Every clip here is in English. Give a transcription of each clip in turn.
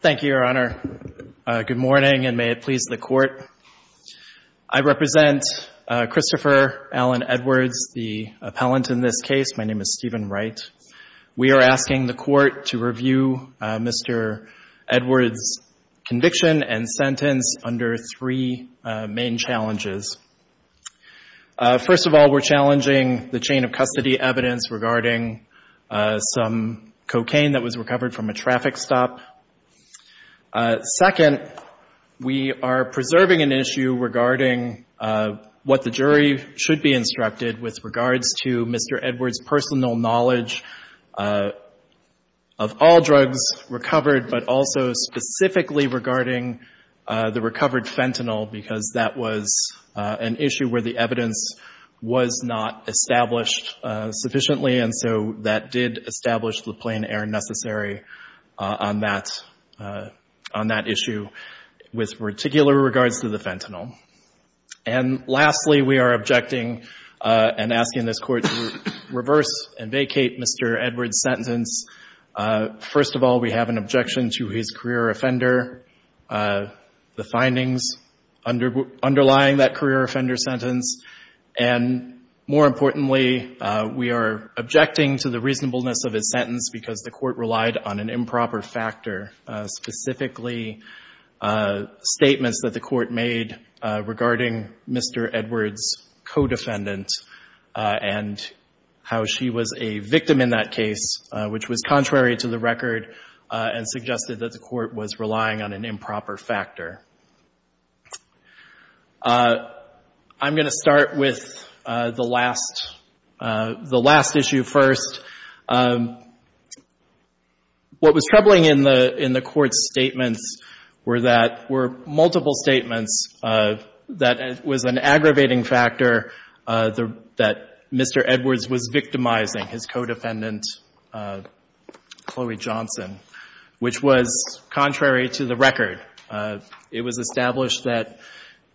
Thank you, Your Honor. Good morning, and may it please the Court. I represent Christopher Alan Edwards, the appellant in this case. My name is Stephen Wright. We are asking the Court to review Mr. Edwards' conviction and sentence under three main challenges. First of all, we're challenging the chain-of-custody evidence regarding some cocaine that was recovered from a traffic stop. Second, we are preserving an issue regarding what the jury should be instructed with regards to Mr. Edwards' personal knowledge of all drugs recovered, but also specifically regarding the recovered fentanyl, because that was an issue where the evidence was not established sufficiently, and so that did establish the plain error necessary on that issue with particular regards to the fentanyl. And lastly, we are objecting and asking this Court to reverse and vacate Mr. Edwards' sentence. First of all, we have an objection to his career offender, the findings underlying that career offender sentence. And more importantly, we are objecting to the reasonableness of his sentence because the Court relied on an improper factor, specifically statements that the Court made regarding Mr. Edwards' co-defendant and how she was a victim in that case, which was contrary to the record and suggested that the Court was relying on an improper factor. I'm going to start with the last issue first. What was troubling in the Court's statements were that were multiple statements that was an aggravating factor that Mr. Edwards was victimizing his co-defendant, Chloe Johnson, which was contrary to the record. It was established that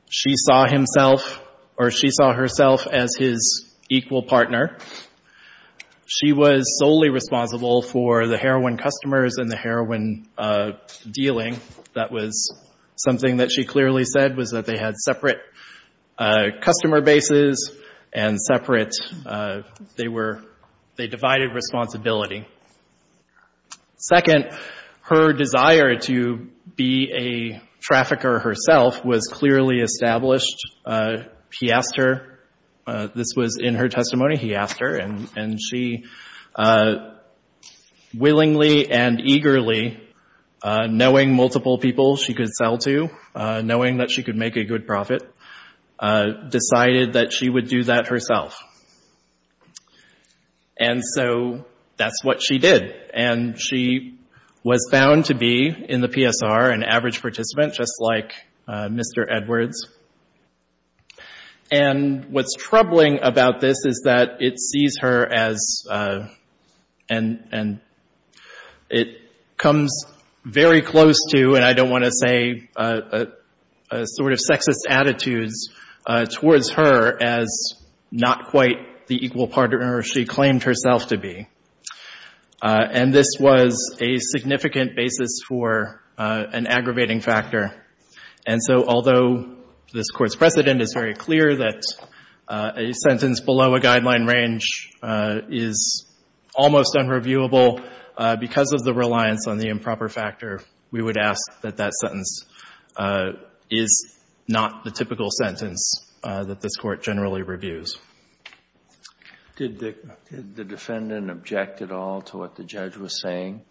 she saw himself or she saw herself as his equal partner. She was solely responsible for the heroin customers and the heroin dealing. That was something that she clearly said was that they had separate customer bases and separate, they were, they divided responsibility. Second, her desire to be a trafficker herself was clearly established. He asked her, this was in her testimony, he asked her, and she willingly and eagerly, knowing multiple people she could sell to, knowing that she could make a good profit, decided that she would do that herself. And so that's what she did. And she was found to be, in the PSR, an average is that it sees her as, and it comes very close to, and I don't want to say, a sort of sexist attitudes towards her as not quite the equal partner she claimed herself to be. And this was a significant basis for an aggravating factor. And so although this Court's precedent is very clear that a sentence below a guideline range is almost unreviewable, because of the reliance on the improper factor, we would ask that that sentence is not the typical sentence that this Court generally reviews. Did the defendant object at all to what the judge was saying?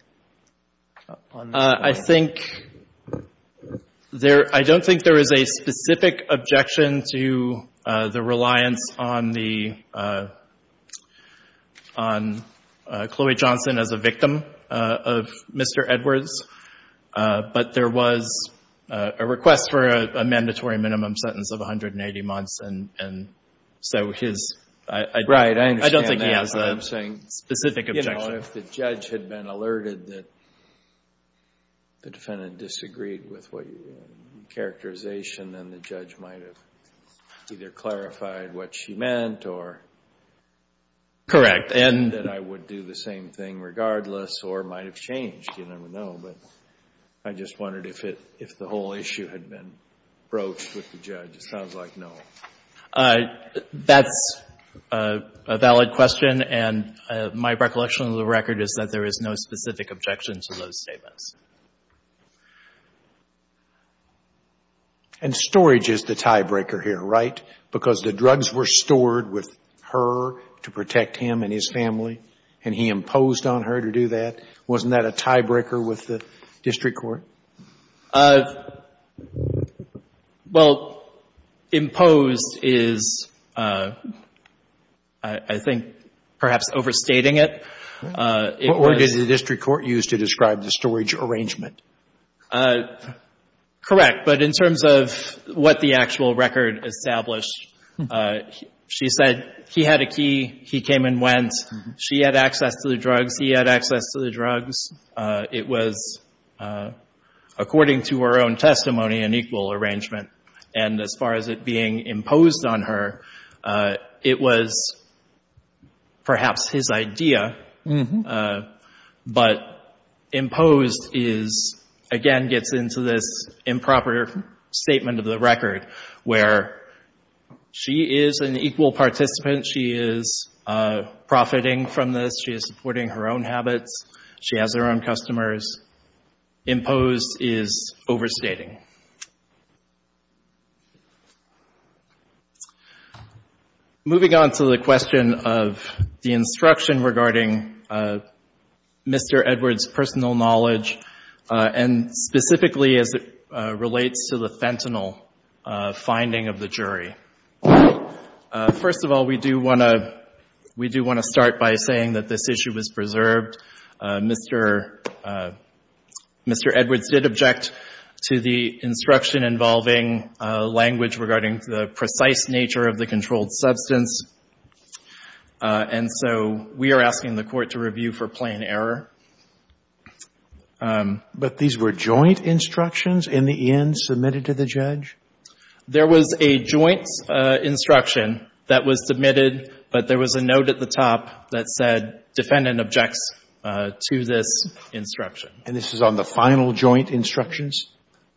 I think there, I don't think there is a specific objection to the reliance on the, on Chloe Johnson as a victim of Mr. Edwards. But there was a request for a mandatory minimum sentence of 180 months, and so his, I don't think he has a specific objection. Well, if the judge had been alerted that the defendant disagreed with what your characterization, then the judge might have either clarified what she meant, or that I would do the same thing regardless, or it might have changed. You never know. But I just wondered if it, if the whole issue had been broached with the judge. It sounds like no. That's a valid question, and my recollection of the record is that there is no specific objection to those statements. And storage is the tiebreaker here, right? Because the drugs were stored with her to protect him and his family, and he imposed on her to do that. Wasn't that a tiebreaker with the district court? Well, imposed is, I think, perhaps overstating it. Or did the district court use to describe the storage arrangement? Correct. But in terms of what the actual record established, she said he had a key, he came and went, she had access to the drugs, he had access to the drugs. It was, according to her own testimony, an equal arrangement. And as far as it being imposed on her, it was perhaps his idea. But imposed is, again, gets into this improper statement of the record, where she is an equal participant, she is profiting from this, she is supporting her own habits, she has her own customers. Imposed is overstating. Moving on to the question of the instruction regarding Mr. Edwards' personal knowledge, and specifically as it relates to the fentanyl finding of the jury. First of all, we do want to start by saying that this issue is preserved. Mr. Edwards did object to the instruction involving language regarding the precise nature of the controlled substance, and so we are not going to go into that. But these were joint instructions in the end submitted to the judge? There was a joint instruction that was submitted, but there was a note at the top that said defendant objects to this instruction. And this is on the final joint instructions?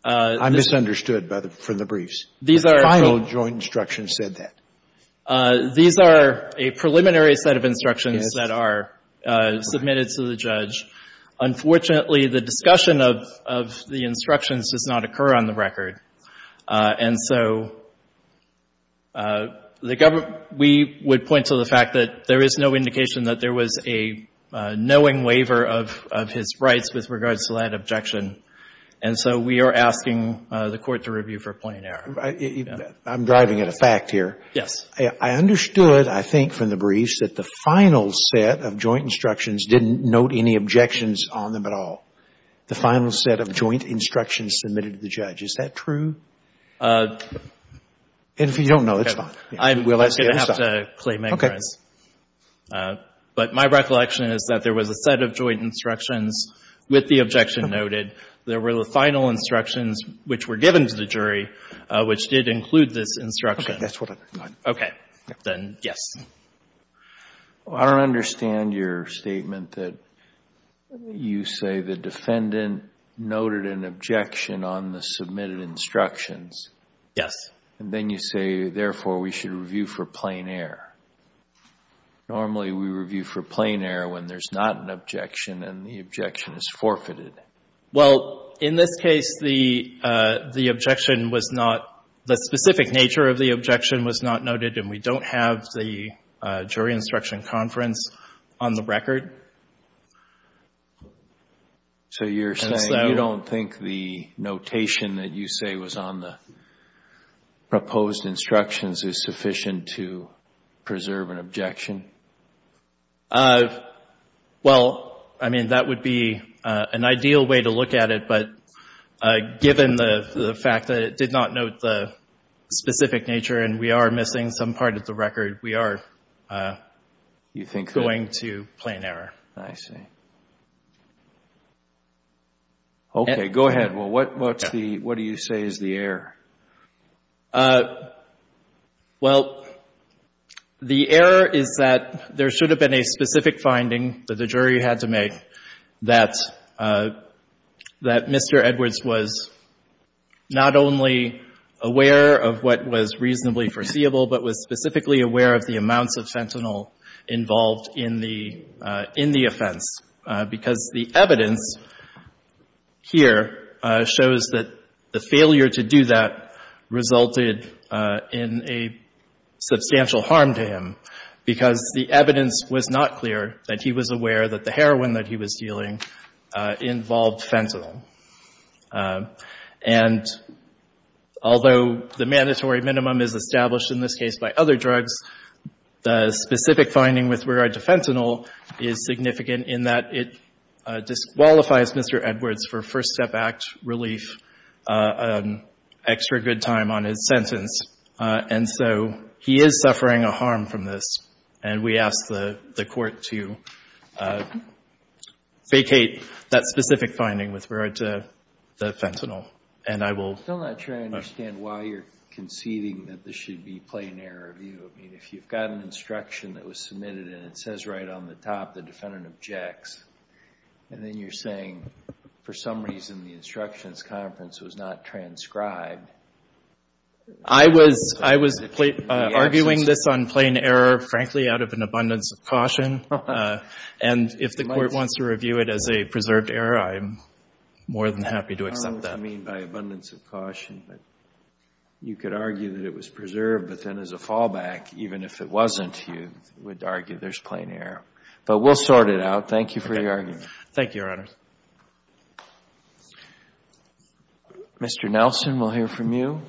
I'm misunderstood by the briefs. These are... Final joint instructions said that. Unfortunately, the discussion of the instructions does not occur on the record. And so we would point to the fact that there is no indication that there was a knowing waiver of his rights with regards to that objection. And so we are asking the Court to review for point of error. I'm driving at a fact here. Yes. I understood, I think, from the briefs that the final set of joint instructions didn't note any objections on them at all. The final set of joint instructions submitted to the judge. Is that true? And if you don't know, it's fine. I'm going to have to claim ignorance. Okay. But my recollection is that there was a set of joint instructions with the objection noted. There were the final instructions which were given to the jury, which did include this instruction. Okay. That's what I thought. Okay. Then, yes. I don't understand your statement that you say the defendant noted an objection on the submitted instructions. Yes. And then you say, therefore, we should review for plain error. Normally, we review for plain error when there's not an objection and the objection is forfeited. Well, in this case, the objection was not... The specific nature of the objection was not to have the jury instruction conference on the record. So you're saying you don't think the notation that you say was on the proposed instructions is sufficient to preserve an objection? Well, I mean, that would be an ideal way to look at it, but given the fact that it did not note the specific nature and we are missing some part of the record, we are... You think that... ...going to plain error. I see. Okay. Go ahead. Well, what do you say is the error? Well, the error is that there should have been a specific finding that the jury had to make that Mr. Edwards was not only aware of what was reasonably foreseeable, but was specifically aware of the amounts of fentanyl involved in the offense. Because the evidence here shows that the failure to do that resulted in a substantial harm to him because the evidence was not clear that he was aware that the heroin that he was dealing involved fentanyl. And although the mandatory minimum is established in this case by other drugs, the specific finding with regard to fentanyl is significant in that it disqualifies Mr. Edwards for first-step contract relief, extra good time on his sentence. And so he is suffering a harm from this. And we ask the court to vacate that specific finding with regard to the fentanyl. And I will... I'm still not sure I understand why you're conceiving that this should be plain error review. I mean, if you've got an instruction that was submitted and it says right on the instructions conference was not transcribed... I was arguing this on plain error, frankly, out of an abundance of caution. And if the court wants to review it as a preserved error, I'm more than happy to accept that. I don't know what you mean by abundance of caution. But you could argue that it was preserved, but then as a fallback, even if it wasn't, you would argue there's plain error. But we'll sort it out. Thank you for your argument. Thank you, Your Honor. Mr. Nelson, we'll hear from you.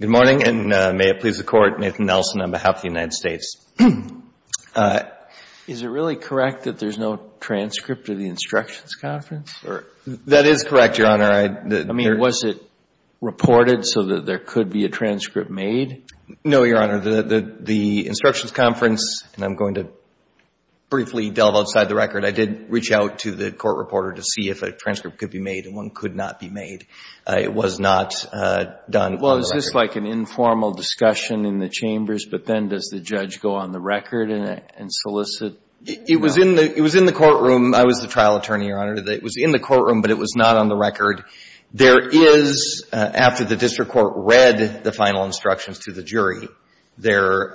Good morning, and may it please the Court, Nathan Nelson on behalf of the United States. Is it really correct that there's no transcript of the instructions conference? That is correct, Your Honor. I mean, was it reported so that there could be a transcript made? No, Your Honor. The instructions conference, and I'm going to briefly delve outside the record, I did reach out to the court reporter to see if a transcript could be made and one could not be made. It was not done. Well, is this like an informal discussion in the chambers, but then does the judge go on the record and solicit? It was in the courtroom. I was the trial attorney, Your Honor. It was in the courtroom, but it was not on the record. There is, after the district court read the final instructions to the jury, there,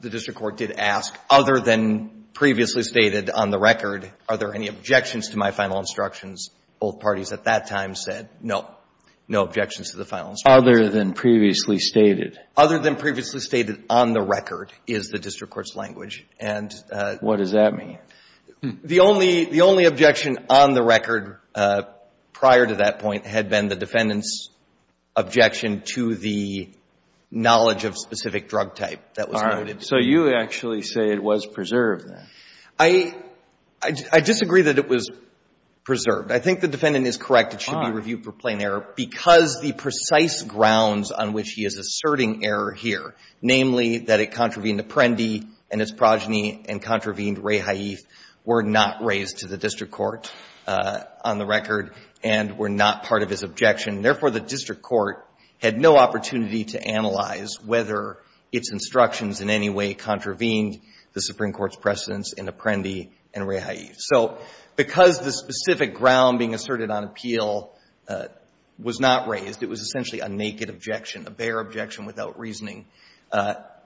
the district court did ask, other than previously stated on the record, are there any objections to my final instructions? Both parties at that time said, no, no objections to the final instructions. Other than previously stated? Other than previously stated on the record is the district court's language. Prior to that point had been the defendant's objection to the knowledge of specific drug type that was noted. All right. So you actually say it was preserved then? I disagree that it was preserved. I think the defendant is correct. It should be reviewed for plain error because the precise grounds on which he is asserting error here, namely that it contravened Apprendi and his progeny and contravened Ray Haif, were not raised to the district court on the record and were not part of his objection. Therefore, the district court had no opportunity to analyze whether its instructions in any way contravened the Supreme Court's precedence in Apprendi and Ray Haif. So because the specific ground being asserted on appeal was not raised, it was essentially a naked objection, a bare objection without reasoning,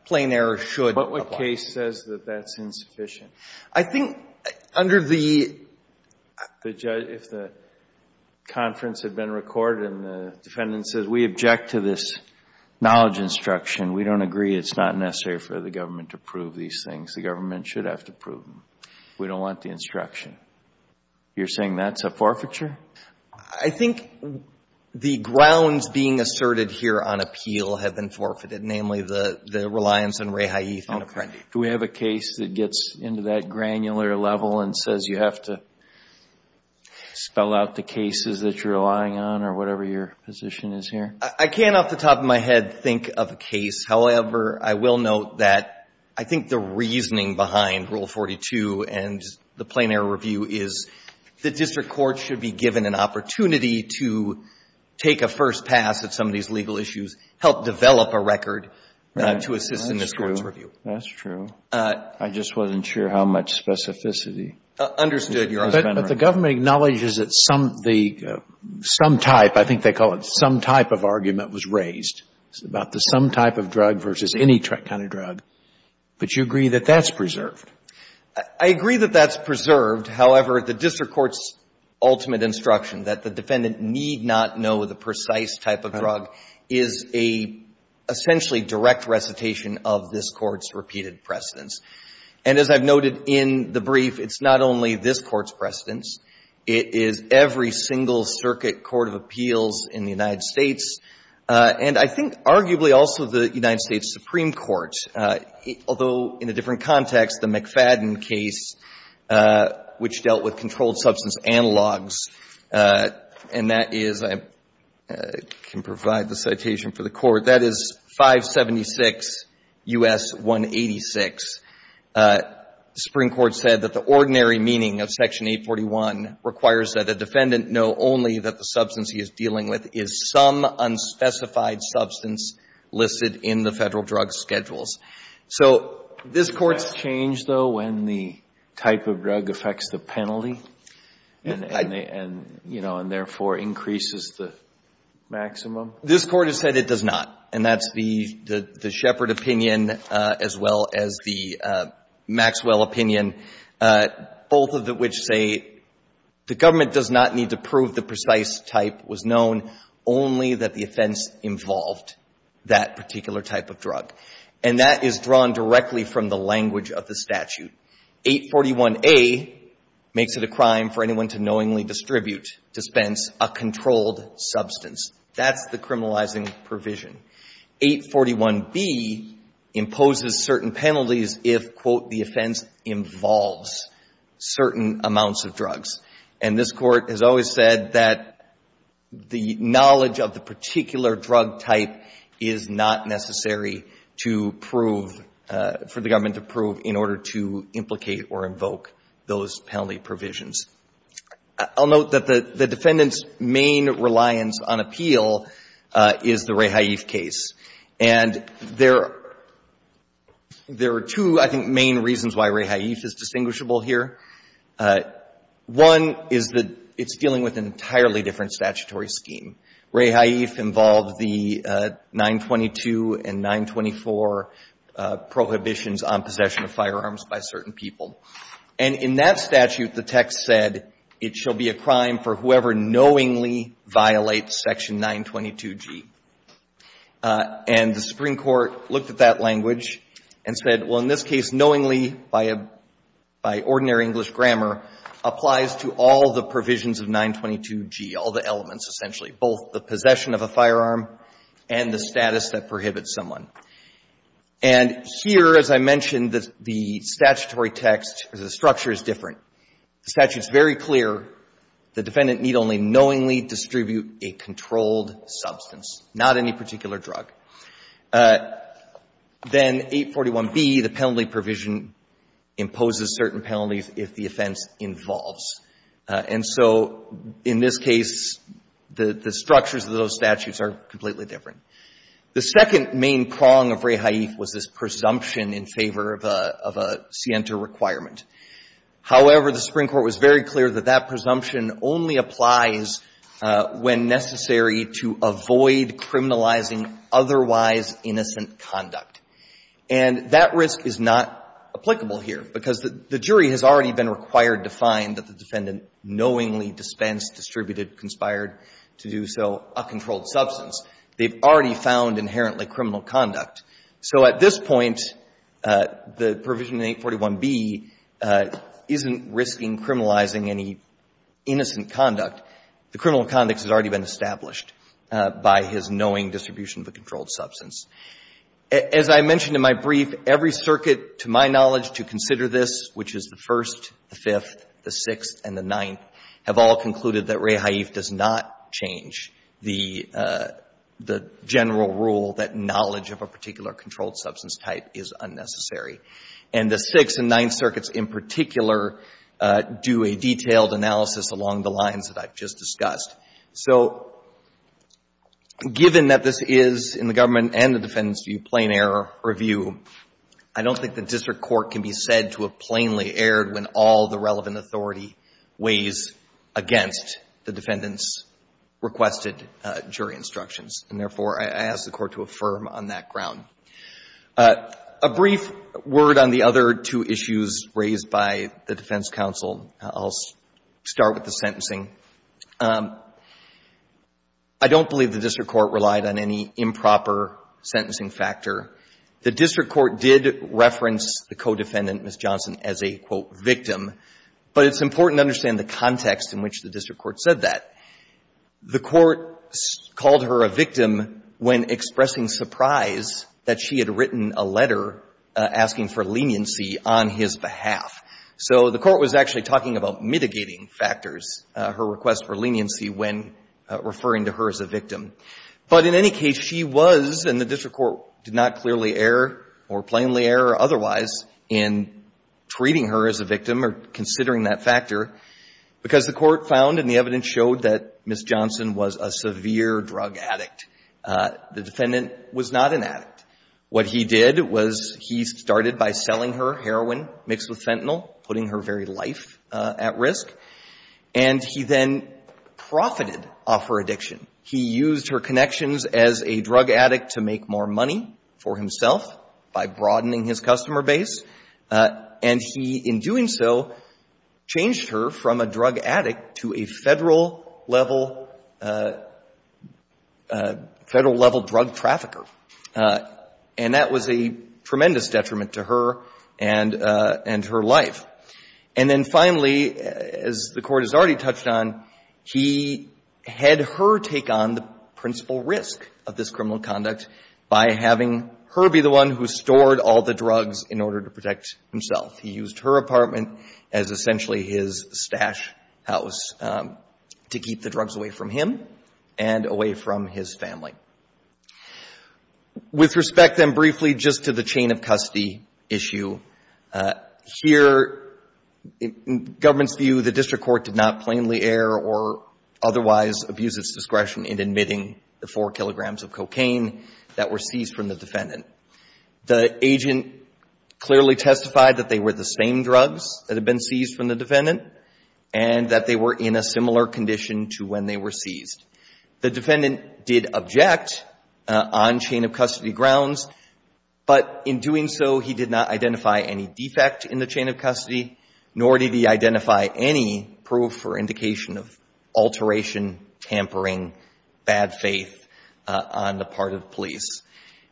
plain error should apply. But what case says that that's insufficient? I think under the The judge, if the conference had been recorded and the defendant says, we object to this knowledge instruction, we don't agree it's not necessary for the government to prove these things. The government should have to prove them. We don't want the instruction. You're saying that's a forfeiture? I think the grounds being asserted here on appeal have been forfeited, namely the reliance on Ray Haif and Apprendi. Do we have a case that gets into that granular level and says you have to spell out the cases that you're relying on or whatever your position is here? I can't off the top of my head think of a case. However, I will note that I think the reasoning behind Rule 42 and the plain error review is the district court should be given an opportunity to take a first pass at some of these legal issues, help develop a record to assist in this court's review. That's true. I just wasn't sure how much specificity. Understood, Your Honor. But the government acknowledges that some type, I think they call it some type of argument, was raised about the some type of drug versus any kind of drug. But you agree that that's preserved? I agree that that's preserved. However, the district court's ultimate instruction that the defendant need not know the precise type of drug is a essentially direct recitation of this court's repeated precedence. And as I've noted in the brief, it's not only this court's precedence. It is every single circuit court of appeals in the United States and I think arguably also the United States Supreme Court, although in a different context, the McFadden case, which dealt with controlled substance analogs, and that is, I'm not sure if it's I can provide the citation for the court. That is 576 U.S. 186. The Supreme Court said that the ordinary meaning of Section 841 requires that a defendant know only that the substance he is dealing with is some unspecified substance listed in the federal drug schedules. So this court's Does that change, though, when the type of drug affects the penalty? And, you know, and therefore increases the maximum? This Court has said it does not. And that's the Shepard opinion as well as the Maxwell opinion, both of which say the government does not need to prove the precise type was known, only that the offense involved that particular type of drug. And that is drawn directly from the language of the statute. 841A makes it a crime for anyone to knowingly distribute, dispense a controlled substance. That's the criminalizing provision. 841B imposes certain penalties if, quote, the offense involves certain amounts of drugs. And this Court has always said that the knowledge of the particular drug type is not necessary to prove, for the government to prove, in order to implicate or invoke those penalty provisions. I'll note that the defendant's main reliance on appeal is the Ray Haif case. And there are two, I think, main reasons why Ray Haif is distinguishable here. One is that it's dealing with an entirely different statutory scheme. Ray Haif involved the 922 and 924 prohibitions on possession of firearms by certain people. And in that statute, the text said, it shall be a crime for whoever knowingly violates Section 922G. And the Supreme Court looked at that language and said, well, in this case, knowingly, by ordinary English grammar, applies to all the provisions of 922G, all the elements, essentially, both the possession of a firearm and the status that prohibits someone. And here, as I mentioned, the statutory text, the structure is different. The statute is very clear. The defendant need only knowingly distribute a controlled substance, not any particular drug. Then 841B, the penalty provision imposes certain penalties if the offense involves. And so in this case, the structures of those statutes are completely different. The second main prong of Ray Haif was this presumption in favor of a Sienta requirement. However, the Supreme Court was very clear that that presumption only applies when necessary to avoid criminalizing otherwise innocent conduct. And that risk is not applicable here, because the jury has already been required to find that the defendant knowingly dispensed, distributed, conspired to do so a controlled substance. They've already found inherently criminal conduct. So at this point, the provision in 841B isn't risking criminalizing any innocent conduct. The criminal conduct has already been established by his knowing distribution of a controlled substance. As I mentioned in my brief, every circuit, to my knowledge, to consider this, which is the First, the Fifth, the Sixth, and the Ninth, have all concluded that Ray Haif does not change the general rule that knowledge of a particular controlled substance type is unnecessary. And the Sixth and Ninth circuits in particular do a detailed analysis along the lines that I've just discussed. So given that this is, in the government and the defendant's view, plain error or view, I don't think the district court can be said to have plainly erred when all the relevant authority weighs against the defendant's requested jury instructions. And therefore, I ask the Court to affirm on that ground. A brief word on the other two issues raised by the defense counsel. I'll start with the sentencing. I don't believe the district court relied on any improper sentencing factor. The district court did reference the co-defendant, Ms. Johnson, as a, quote, victim. But it's important to understand the context in which the district court said that. The court called her a victim when expressing surprise that she had written a letter asking for leniency on his behalf. So the court was actually talking about mitigating factors, her request for leniency when referring to her as a victim. But in any case, she was, and the district court did not clearly err or plainly err otherwise in treating her as a victim or considering that factor, because the court found and the evidence showed that Ms. Johnson was a severe drug addict. The defendant was not an addict. What he did was he started by selling her heroin mixed with fentanyl, putting her very life at risk. And he then profited off her connections as a drug addict to make more money for himself by broadening his customer base. And he, in doing so, changed her from a drug addict to a Federal-level drug trafficker. And that was a tremendous detriment to her and her life. And then, finally, as the court has already touched on, he had her take on the personal principal risk of this criminal conduct by having her be the one who stored all the drugs in order to protect himself. He used her apartment as essentially his stash house to keep the drugs away from him and away from his family. With respect, then, briefly, just to the chain of custody issue, here, in government's view, the district court did not plainly err or otherwise abuse its discretion in admitting the 4 kilograms of cocaine that were seized from the defendant. The agent clearly testified that they were the same drugs that had been seized from the defendant and that they were in a similar condition to when they were seized. The defendant did object on chain of custody grounds, but in doing so, he did not identify any proof or indication of alteration, tampering, bad faith on the part of police.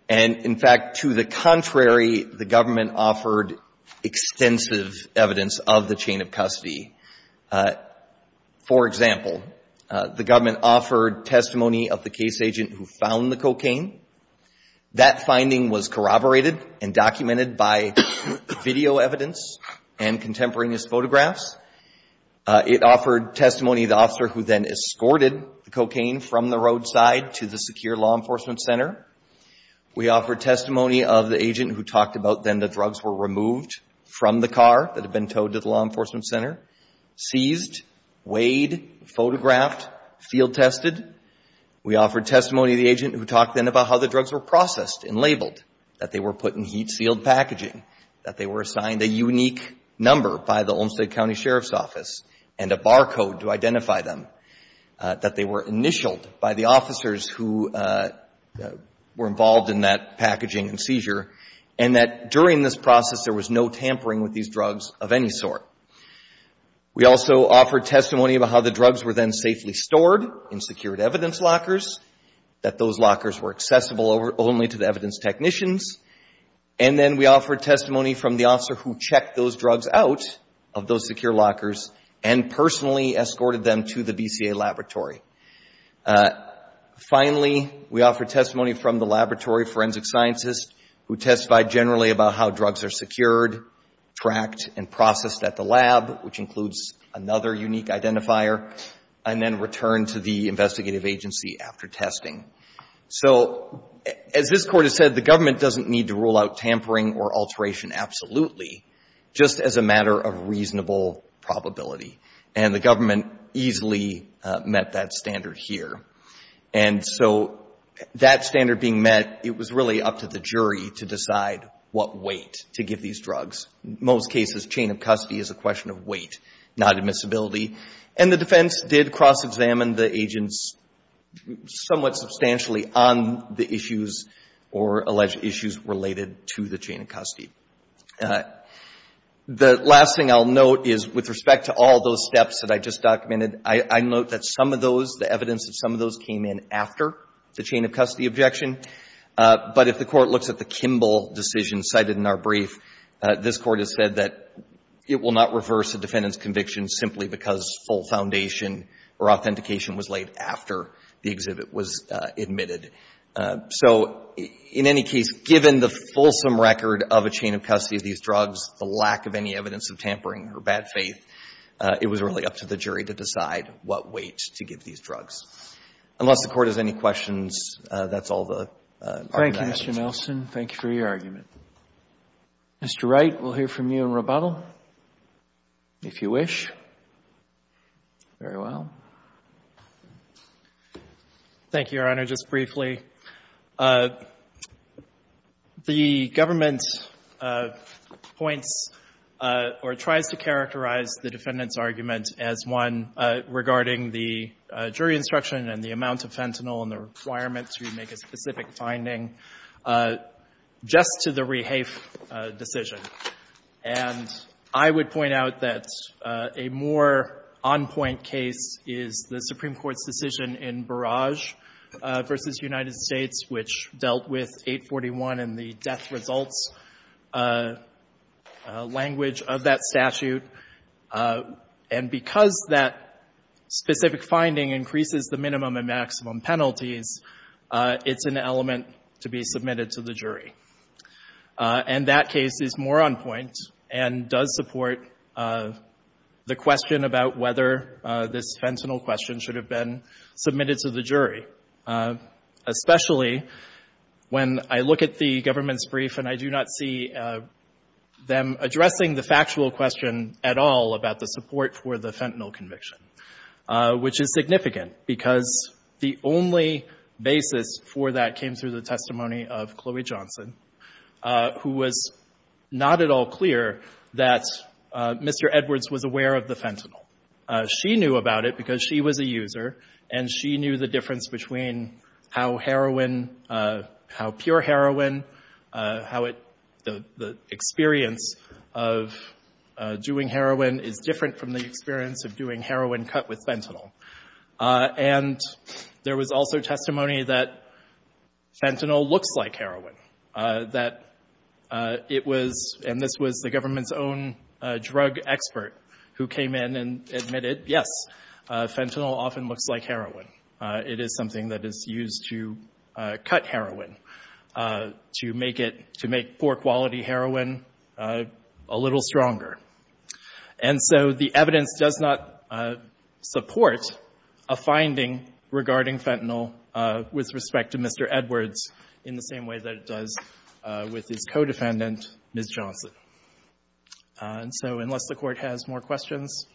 And, in fact, to the contrary, the government offered extensive evidence of the chain of custody. For example, the government offered testimony of the case agent who found the cocaine. That finding was corroborated and documented by video evidence and contemporaneous photographs. It offered testimony of the officer who then escorted the cocaine from the roadside to the secure law enforcement center. We offered testimony of the agent who talked about, then, the drugs were removed from the car that had been towed to the law enforcement center, seized, weighed, photographed, field tested. We offered testimony of the agent who talked, then, about how the drugs were processed and labeled, that they were put in heat-sealed packaging, that they were assigned a unique number by the Olmstead County Sheriff's Office and a barcode to identify them, that they were initialed by the officers who were involved in that packaging and seizure, and that during this process, there was no tampering with these drugs of any sort. We also offered testimony about how the drugs were, then, safely stored in secured evidence lockers, that those lockers were accessible only to the evidence technicians. And then we offered testimony from the officer who checked those drugs out of those secure lockers and personally escorted them to the BCA laboratory. Finally, we offered testimony from the laboratory forensic scientist who testified generally about how drugs are secured, tracked, and processed at the lab, which includes another unique identifier, and then returned to the investigative agency after testing. So, as this Court has said, the government doesn't need to rule out tampering or alteration absolutely, just as a matter of reasonable probability. And the government easily met that standard here. And so, that standard being met, it was really up to the jury to decide what weight to give these drugs. In most cases, chain of custody is a question of weight, not The defense did cross-examine the agents somewhat substantially on the issues or alleged issues related to the chain of custody. The last thing I'll note is, with respect to all those steps that I just documented, I note that some of those, the evidence of some of those came in after the chain of custody objection. But if the Court looks at the Kimball decision cited in our brief, this Court has said that it will not reverse a defendant's conviction simply because full foundation or authentication was laid after the exhibit was admitted. So, in any case, given the fulsome record of a chain of custody of these drugs, the lack of any evidence of tampering or bad faith, it was really up to the jury to decide what weight to give these drugs. Unless the Court has any questions, that's all the argument I have. Thank you, Mr. Nelson. Thank you for your argument. Mr. Wright, we'll hear from you in rebuttal. If you wish. Very well. Thank you, Your Honor. Just briefly, the government points or tries to characterize the defendant's argument as one regarding the jury instruction and the amount of fentanyl and the requirement to make a specific finding just to the rehafe decision. And I would point out that a more on-point case is the Supreme Court's decision in Barrage v. United States, which dealt with 841 and the death results language of that statute. And because that specific finding increases the minimum and maximum penalties, it's an element to be submitted to the jury. And that case is more on point and does support the question about whether this fentanyl question should have been submitted to the jury, especially when I look at the government's brief and I do not see them addressing the factual question at all about the support for the fentanyl conviction, which is significant because the only basis for that came through the testimony of Chloe Johnson, who was not at all clear that Mr. Edwards was aware of the fentanyl. She knew about it because she was a user and she knew the difference between how heroin, how pure heroin, how the experience of doing heroin is different from the experience of doing heroin cut with fentanyl. And there was also testimony that fentanyl looks like heroin, that it was—and this was the government's own drug expert who came in and admitted, yes, fentanyl often looks like heroin. It is something that is used to cut heroin, to make it—to make poor The evidence does not support a finding regarding fentanyl with respect to Mr. Edwards in the same way that it does with his co-defendant, Ms. Johnson. And so unless the Court has more questions,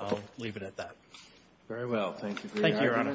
I'll leave it at that. Very well. Thank you. Thank you, Your Honor.